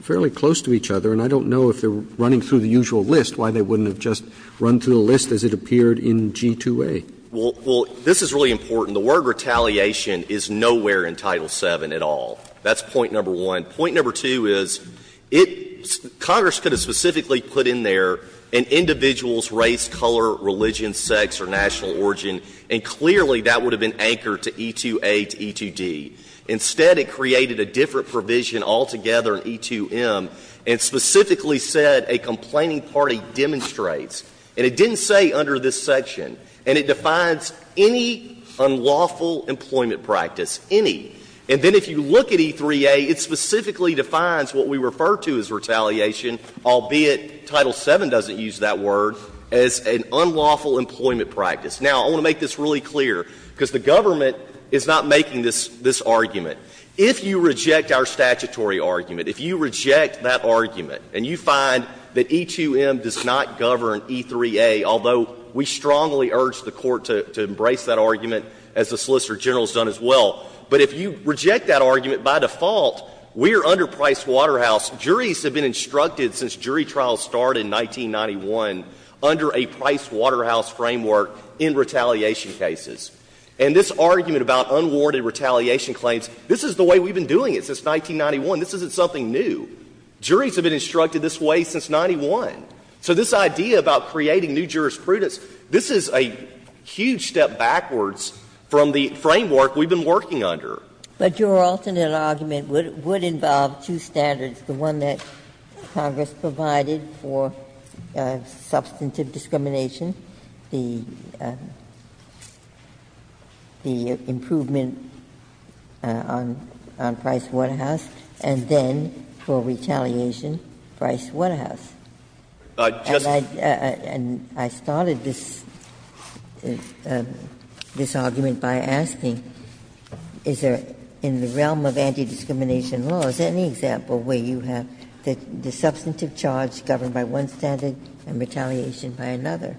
fairly close to each other, and I don't know if they're running through the usual list why they wouldn't have just run through the list as it appeared in G2A. Well, this is really important. The word retaliation is nowhere in Title VII at all. That's point number one. Point number two is, it — Congress could have specifically put in there an individual's race, color, religion, sex, or national origin, and clearly that would have been anchored to E2A to E2D. Instead, it created a different provision altogether in E2M and specifically said a complaining party demonstrates. And it didn't say under this section. And it defines any unlawful employment practice, any. And then if you look at E3A, it specifically defines what we refer to as retaliation, albeit Title VII doesn't use that word, as an unlawful employment practice. Now, I want to make this really clear, because the government is not making this argument. If you reject our statutory argument, if you reject that argument and you find that E2M does not govern E3A, although we strongly urge the Court to embrace that argument as the Solicitor General has done as well, but if you reject that argument, by default, we are under Price Waterhouse. Juries have been instructed since jury trials started in 1991 under a Price Waterhouse framework in retaliation cases. And this argument about unwarranted retaliation claims, this is the way we've been doing it since 1991. This isn't something new. Juries have been instructed this way since 91. So this idea about creating new jurisprudence, this is a huge step backwards from the framework we've been working under. Ginsburg. But your alternate argument would involve two standards, the one that Congress provided for substantive discrimination, the improvement on Price Waterhouse, and then for retaliation, Price Waterhouse. And I started this argument by asking, is there, in the realm of anti-discrimination laws, any example where you have the substantive charge governed by one standard and retaliation by another?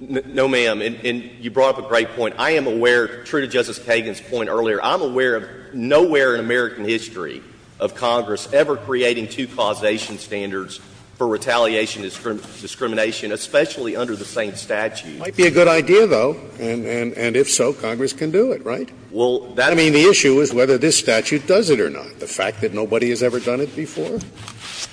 No, ma'am. And you brought up a great point. I am aware, true to Justice Kagan's point earlier, I'm aware of nowhere in American history of Congress ever creating two causation standards for retaliation discrimination, especially under the same statute. It might be a good idea, though, and if so, Congress can do it, right? Well, that would mean the issue is whether this statute does it or not. The fact that nobody has ever done it before,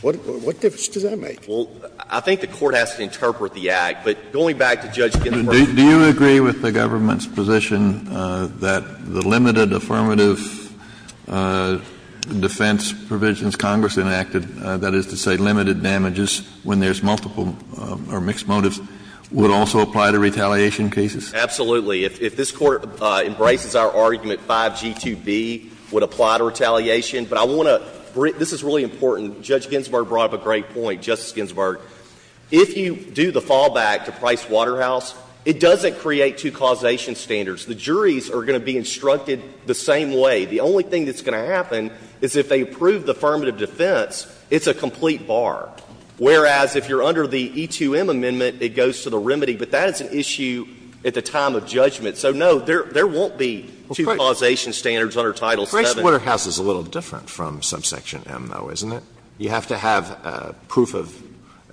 what difference does that make? Well, I think the Court has to interpret the act, but going back to Judge Ginsburg. Kennedy, do you agree with the government's position that the limited affirmative defense provisions Congress enacted, that is to say, limited damages when there's multiple or mixed motives, would also apply to retaliation cases? Absolutely. If this Court embraces our argument, 5G2B would apply to retaliation. But I want to bring up, this is really important, Judge Ginsburg brought up a great point, Justice Ginsburg. If you do the fallback to Price Waterhouse, it doesn't create two causation standards. The juries are going to be instructed the same way. The only thing that's going to happen is if they approve the affirmative defense, it's a complete bar. Whereas, if you're under the E2M amendment, it goes to the remedy. But that is an issue at the time of judgment. So, no, there won't be two causation standards under Title VII. Price Waterhouse is a little different from subsection M, though, isn't it? You have to have proof of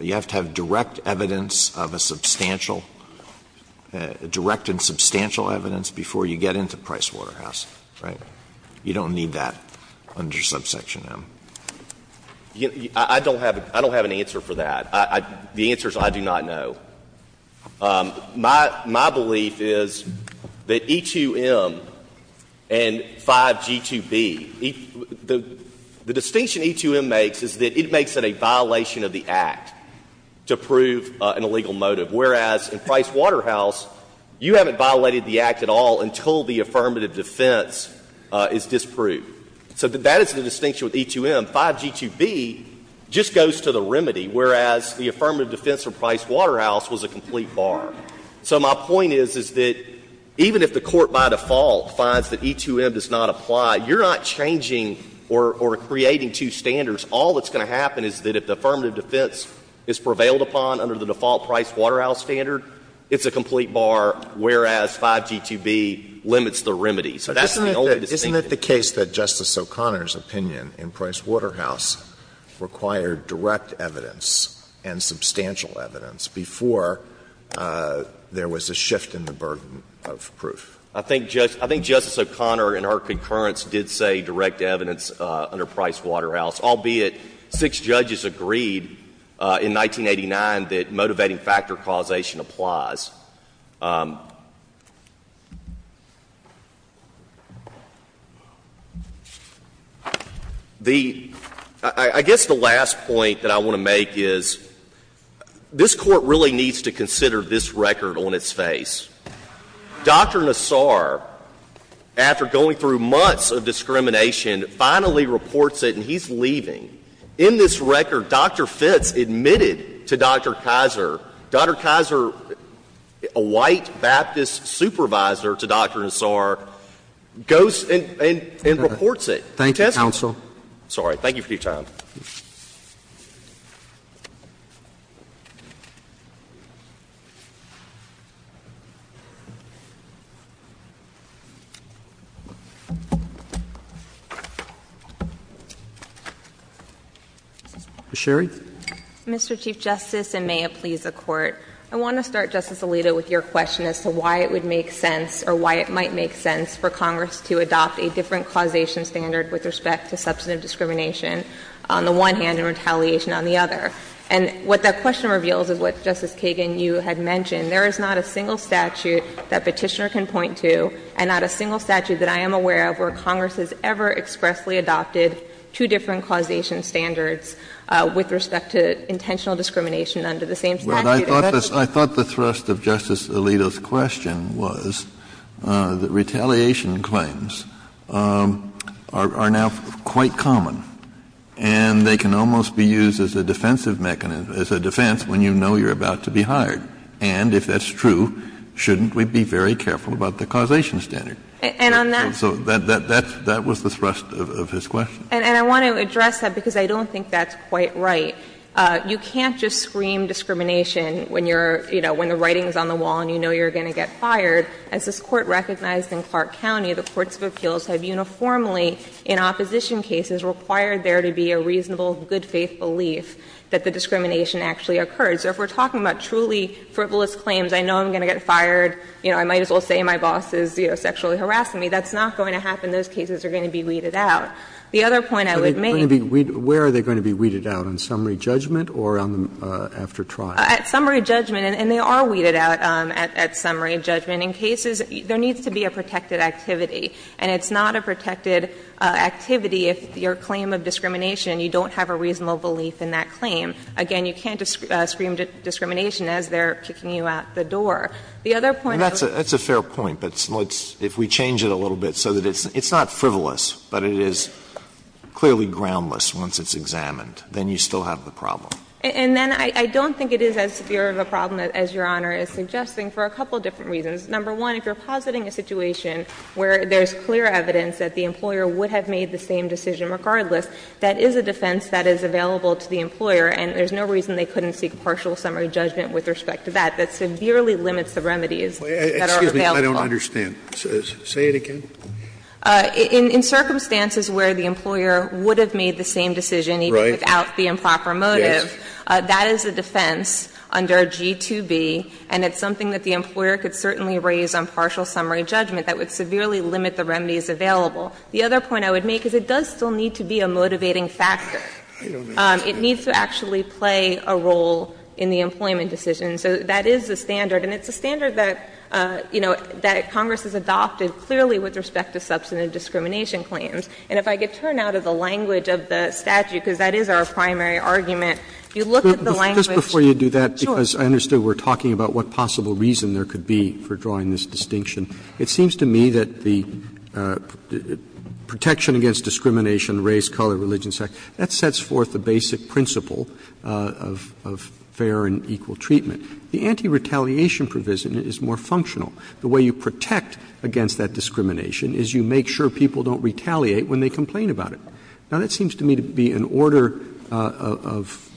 you have to have direct evidence of a substantial direct and substantial evidence before you get into Price Waterhouse, right? You don't need that under subsection M. I don't have an answer for that. The answer is I do not know. My belief is that E2M and 5G2B, the distinction E2M makes is that the E2M and 5G2B makes is that it makes it a violation of the Act to prove an illegal motive. Whereas, in Price Waterhouse, you haven't violated the Act at all until the affirmative defense is disproved. So that is the distinction with E2M. 5G2B just goes to the remedy, whereas the affirmative defense from Price Waterhouse was a complete bar. So my point is, is that even if the Court by default finds that E2M does not apply, you're not changing or creating two standards. All that's going to happen is that if the affirmative defense is prevailed upon under the default Price Waterhouse standard, it's a complete bar, whereas 5G2B limits the remedy. So that's the only distinction. Alitoso, isn't it the case that Justice O'Connor's opinion in Price Waterhouse required direct evidence and substantial evidence before there was a shift in the burden of proof? I think Justice O'Connor in her concurrence did say direct evidence under Price Waterhouse, albeit six judges agreed in 1989 that motivating factor causation applies. The — I guess the last point that I want to make is this Court really needs to consider this record on its face. Dr. Nassar, after going through months of discrimination, finally reports it and he's leaving. In this record, Dr. Fitts admitted to Dr. Kizer, Dr. Kizer, a white Baptist supervisor to Dr. Nassar, goes and reports it. Thank you, counsel. Sorry. Thank you for your time. Ms. Sherry. Mr. Chief Justice, and may it please the Court, I want to start, Justice Alito, with your question as to why it would make sense or why it might make sense for Congress to adopt a different causation standard with respect to substantive discrimination on the one hand and retaliation on the other. And what that question reveals is what, Justice Kagan, you had mentioned. There is not a single statute that Petitioner can point to and not a single statute that I am aware of where Congress has ever expressly adopted two different causation standards with respect to intentional discrimination under the same statute. But I thought the thrust of Justice Alito's question was that retaliation claims are now quite common, and they can almost be used as a defensive mechanism, as a defense when you know you're about to be hired. And if that's true, shouldn't we be very careful about the causation standard? And on that so that was the thrust of his question. And I want to address that because I don't think that's quite right. You can't just scream discrimination when you're, you know, when the writing is on the wall and you know you're going to get fired. As this Court recognized in Clark County, the courts of appeals have uniformly in opposition cases required there to be a reasonable good faith belief that the discrimination actually occurs. So if we're talking about truly frivolous claims, I know I'm going to get fired, you know, I might as well say my boss is, you know, sexually harassing me, that's not going to happen. Those cases are going to be weeded out. The other point I would make. Roberts Where are they going to be weeded out, on summary judgment or after trial? At summary judgment, and they are weeded out at summary judgment. In cases, there needs to be a protected activity, and it's not a protected activity if your claim of discrimination, you don't have a reasonable belief in that claim. Again, you can't scream discrimination as they're kicking you out the door. The other point I would make. That's a fair point, but let's, if we change it a little bit so that it's not frivolous, but it is clearly groundless once it's examined, then you still have the problem. And then I don't think it is as severe of a problem as Your Honor is suggesting for a couple of different reasons. Number one, if you're positing a situation where there's clear evidence that the employer would have made the same decision regardless, that is a defense that is available to the employer, and there's no reason they couldn't seek partial summary judgment with respect to that. That severely limits the remedies that are available. Scalia Excuse me, I don't understand. Say it again. In circumstances where the employer would have made the same decision even without the improper motive, that is a defense under G2B, and it's something that the employer could certainly raise on partial summary judgment that would severely limit the remedies available. The other point I would make is it does still need to be a motivating factor. It needs to actually play a role in the employment decision. So that is the standard, and it's a standard that, you know, that Congress has adopted clearly with respect to substantive discrimination claims. And if I could turn now to the language of the statute, because that is our primary argument. If you look at the language. Roberts Just before you do that, because I understood we're talking about what possible reason there could be for drawing this distinction, it seems to me that the Protection Against Discrimination, Race, Color, Religion, Sex, that sets forth the basic principle of fair and equal treatment. The anti-retaliation provision is more functional. The way you protect against that discrimination is you make sure people don't retaliate when they complain about it. Now, that seems to me to be an order of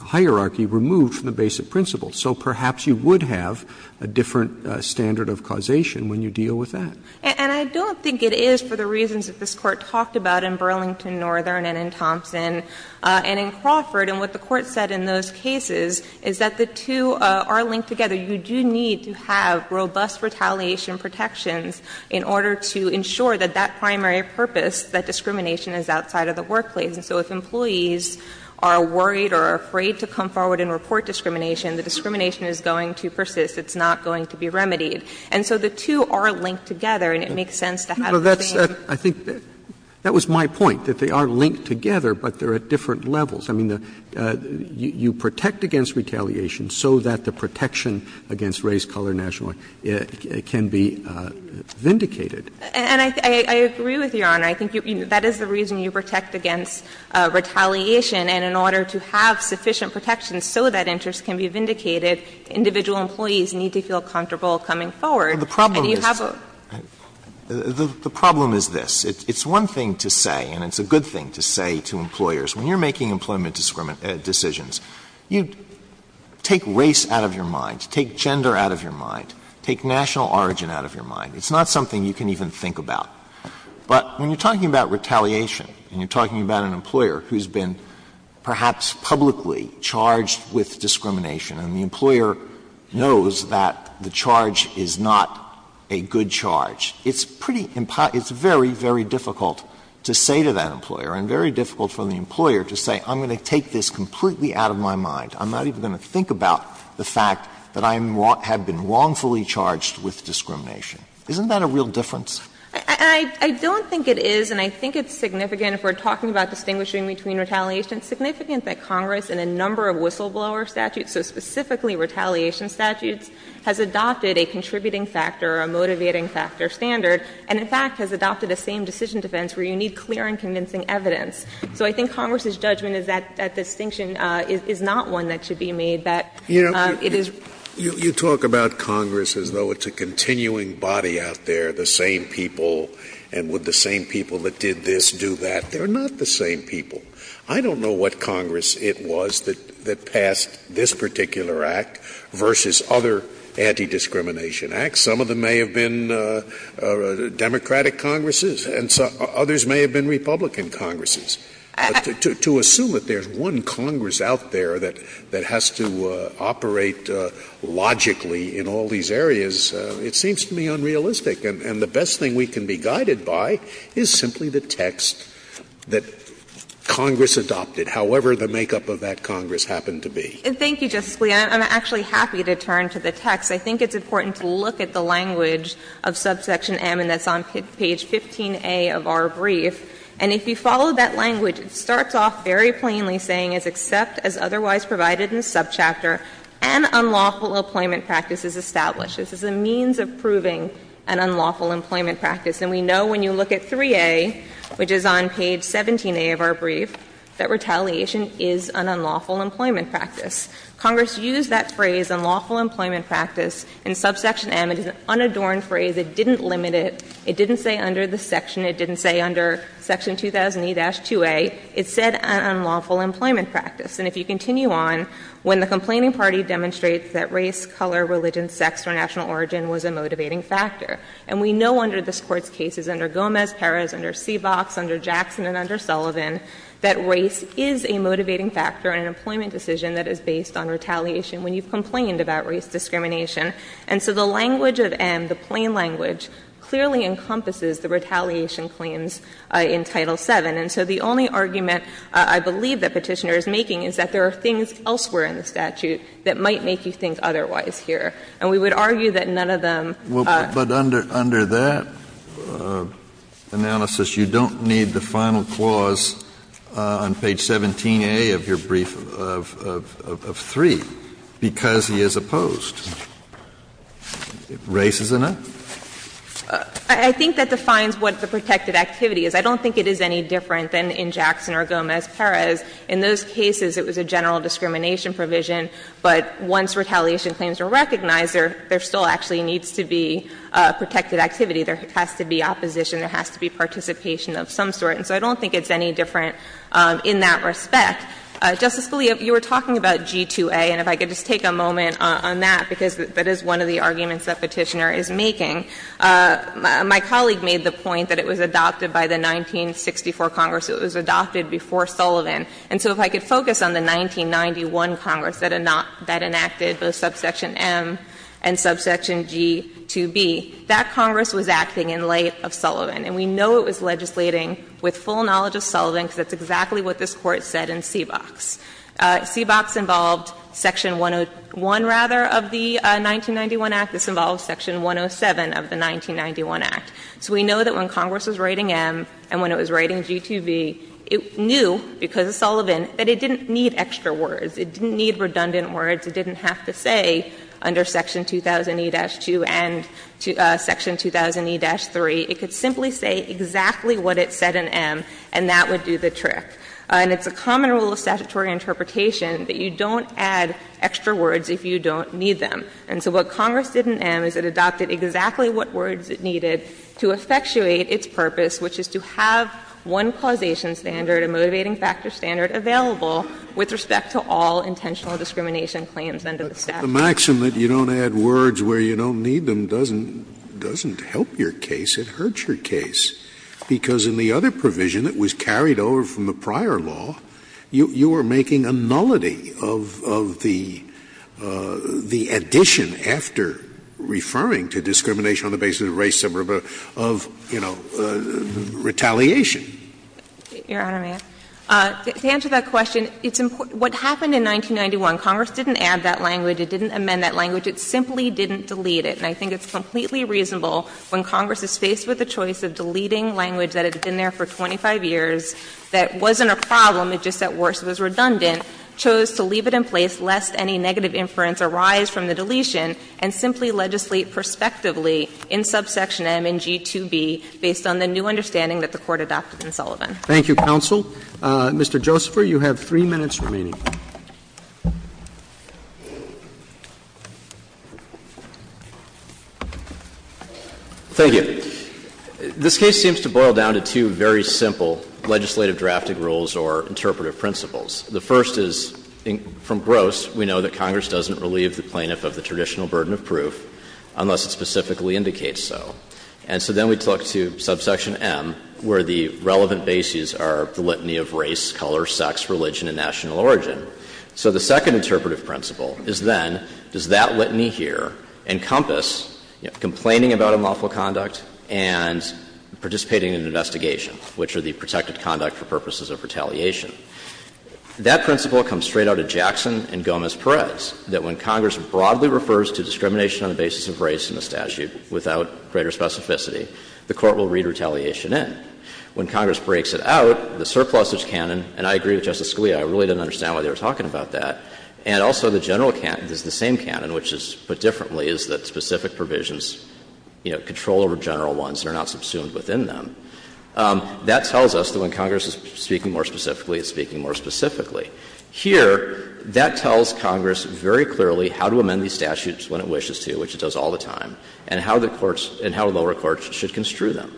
hierarchy removed from the basic principle. So perhaps you would have a different standard of causation when you deal with that. And I don't think it is for the reasons that this Court talked about in Burlington, Northern, and in Thompson, and in Crawford. And what the Court said in those cases is that the two are linked together. So you do need to have robust retaliation protections in order to ensure that that primary purpose, that discrimination, is outside of the workplace. And so if employees are worried or afraid to come forward and report discrimination, the discrimination is going to persist. It's not going to be remedied. And so the two are linked together, and it makes sense to have the same. Roberts That was my point, that they are linked together, but they're at different levels. I mean, you protect against retaliation so that the protection against race, color, nationality can be vindicated. And I agree with Your Honor. I think that is the reason you protect against retaliation. And in order to have sufficient protection so that interest can be vindicated, individual employees need to feel comfortable coming forward. And you have a the problem is this. It's one thing to say, and it's a good thing to say to employers. When you're making employment decisions, you take race out of your mind, take gender out of your mind, take national origin out of your mind. It's not something you can even think about. But when you're talking about retaliation, and you're talking about an employer who's been perhaps publicly charged with discrimination, and the employer knows that the charge is not a good charge, it's pretty — it's very, very difficult to say to that employer and very difficult for the employer to say, I'm going to take this completely out of my mind. I'm not even going to think about the fact that I have been wrongfully charged with discrimination. Isn't that a real difference? I don't think it is, and I think it's significant if we're talking about distinguishing between retaliation. It's significant that Congress in a number of whistleblower statutes, so specifically retaliation statutes, has adopted a contributing factor, a motivating factor standard, and in fact has adopted a same-decision defense where you need clear and convincing evidence. So I think Congress's judgment is that that distinction is not one that should be made, that it is — Scalia, you know, you talk about Congress as though it's a continuing body out there, the same people, and would the same people that did this do that. They're not the same people. I don't know what Congress it was that passed this particular Act versus other anti-discrimination Acts. Some of them may have been Democratic Congresses and others may have been Republican Congresses. To assume that there's one Congress out there that has to operate logically in all these areas, it seems to me unrealistic. And the best thing we can be guided by is simply the text that Congress adopted, however the makeup of that Congress happened to be. And thank you, Justice Scalia. I'm actually happy to turn to the text. I think it's important to look at the language of subsection M, and that's on page 15A of our brief. And if you follow that language, it starts off very plainly saying, As except as otherwise provided in the subchapter, an unlawful employment practice is established. This is a means of proving an unlawful employment practice. And we know when you look at 3A, which is on page 17A of our brief, that retaliation is an unlawful employment practice. Congress used that phrase, unlawful employment practice, in subsection M. It is an unadorned phrase. It didn't limit it. It didn't say under the section. It didn't say under section 2008-2A. It said an unlawful employment practice. And if you continue on, when the complaining party demonstrates that race, color, religion, sex, or national origin was a motivating factor, and we know under this Court's cases, under Gomez, Perez, under Seebox, under Jackson, and under Sullivan, that race is a motivating factor in an employment decision that is based on retaliation when you've complained about race discrimination. And so the language of M, the plain language, clearly encompasses the retaliation claims in Title VII. And so the only argument I believe that Petitioner is making is that there are things elsewhere in the statute that might make you think otherwise here. And we would argue that none of them are. Kennedy, under that analysis, you don't need the final clause on page 17A of your brief of III because he is opposed. Race is a no? I think that defines what the protected activity is. I don't think it is any different than in Jackson or Gomez-Perez. In those cases, it was a general discrimination provision, but once retaliation claims are recognized, there still actually needs to be protected activity. There has to be opposition. There has to be participation of some sort. And so I don't think it's any different in that respect. Justice Scalia, you were talking about G2A, and if I could just take a moment on that, because that is one of the arguments that Petitioner is making. My colleague made the point that it was adopted by the 1964 Congress. It was adopted before Sullivan. And so if I could focus on the 1991 Congress that enacted both subsection M and subsection G2B, that Congress was acting in light of Sullivan. And we know it was legislating with full knowledge of Sullivan because that's exactly what this Court said in CBOX. CBOX involved section 101, rather, of the 1991 Act. This involved section 107 of the 1991 Act. So we know that when Congress was writing M and when it was writing G2B, it knew because of Sullivan that it didn't need extra words. It didn't need redundant words. It didn't have to say under section 2000e-2 and section 2000e-3. It could simply say exactly what it said in M, and that would do the trick. And it's a common rule of statutory interpretation that you don't add extra words if you don't need them. And so what Congress did in M is it adopted exactly what words it needed to effectuate its purpose, which is to have one causation standard, a motivating factor standard, available with respect to all intentional discrimination claims under the statute. Scalia. Scalia. The maxim that you don't add words where you don't need them doesn't help your case. It hurts your case. Because in the other provision that was carried over from the prior law, you were making a nullity of the addition after referring to discrimination on the basis of race, of, you know, retaliation. Your Honor, may I? To answer that question, what happened in 1991, Congress didn't add that language. It didn't amend that language. It simply didn't delete it. And I think it's completely reasonable when Congress is faced with the choice of deleting language that had been there for 25 years, that wasn't a problem, it just said worse, it was redundant, chose to leave it in place lest any negative inference arise from the deletion and simply legislate prospectively in subsection M in G2B based on the new understanding that the Court adopted in Sullivan. Roberts. Thank you, counsel. Mr. Josepher, you have 3 minutes remaining. Thank you. This case seems to boil down to two very simple legislative drafting rules or interpretive principles. The first is, from Gross, we know that Congress doesn't relieve the plaintiff of the traditional burden of proof unless it specifically indicates so. And so then we talk to subsection M where the relevant bases are the litany of race, color, sex, religion, and national origin. So the second interpretive principle is then, does that litany here encompass complaining about unlawful conduct and participating in an investigation, which are the protected conduct for purposes of retaliation? That principle comes straight out of Jackson and Gomez-Perez, that when Congress broadly refers to discrimination on the basis of race in the statute without greater specificity, the Court will read retaliation in. When Congress breaks it out, the surplusage canon, and I agree with Justice Scalia, I really didn't understand why they were talking about that, and also the general canon, it's the same canon, which is put differently, is that specific provisions control over general ones and are not subsumed within them. That tells us that when Congress is speaking more specifically, it's speaking more specifically. Here, that tells Congress very clearly how to amend these statutes when it wishes to, which it does all the time, and how the courts and how lower courts should construe them.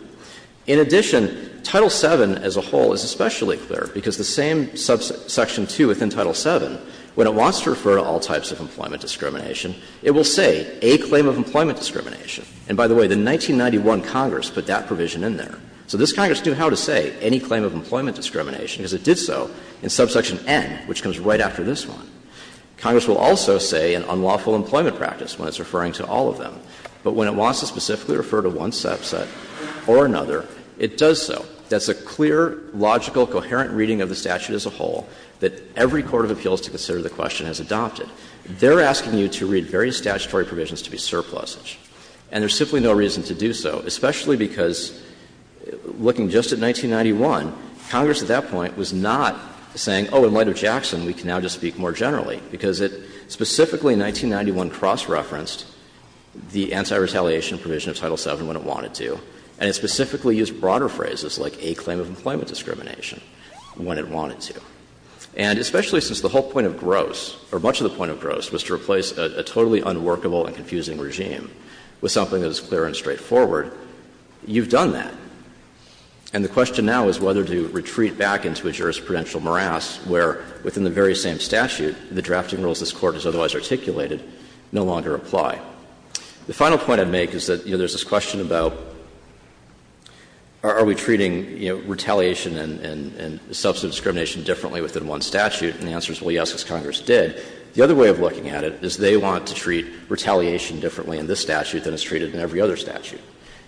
In addition, Title VII as a whole is especially clear, because the same subsection II within Title VII, when it wants to refer to all types of employment discrimination, it will say a claim of employment discrimination. And by the way, the 1991 Congress put that provision in there. So this Congress knew how to say any claim of employment discrimination, because it did so in subsection N, which comes right after this one. Congress will also say an unlawful employment practice when it's referring to all of them. But when it wants to specifically refer to one subset or another, it does so. That's a clear, logical, coherent reading of the statute as a whole that every court of appeals to consider the question has adopted. They're asking you to read various statutory provisions to be surplusage, and there's simply no reason to do so, especially because, looking just at 1991, Congress at that point was not saying, oh, in light of Jackson, we can now just speak more generally, because it specifically, in 1991, cross-referenced the anti-retaliation provision of Title VII when it wanted to, and it specifically used broader phrases like a claim of employment discrimination when it wanted to. And especially since the whole point of gross, or much of the point of gross, was to make it as clear and straightforward, you've done that. And the question now is whether to retreat back into a jurisprudential morass where, within the very same statute, the drafting rules this Court has otherwise articulated no longer apply. The final point I'd make is that, you know, there's this question about are we treating, you know, retaliation and substantive discrimination differently within one statute, and the answer is, well, yes, as Congress did. The other way of looking at it is they want to treat retaliation differently in this statute than it's treated in every other statute.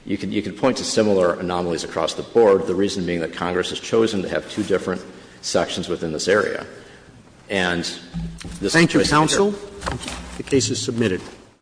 You can point to similar anomalies across the board, the reason being that Congress has chosen to have two different sections within this area. Roberts.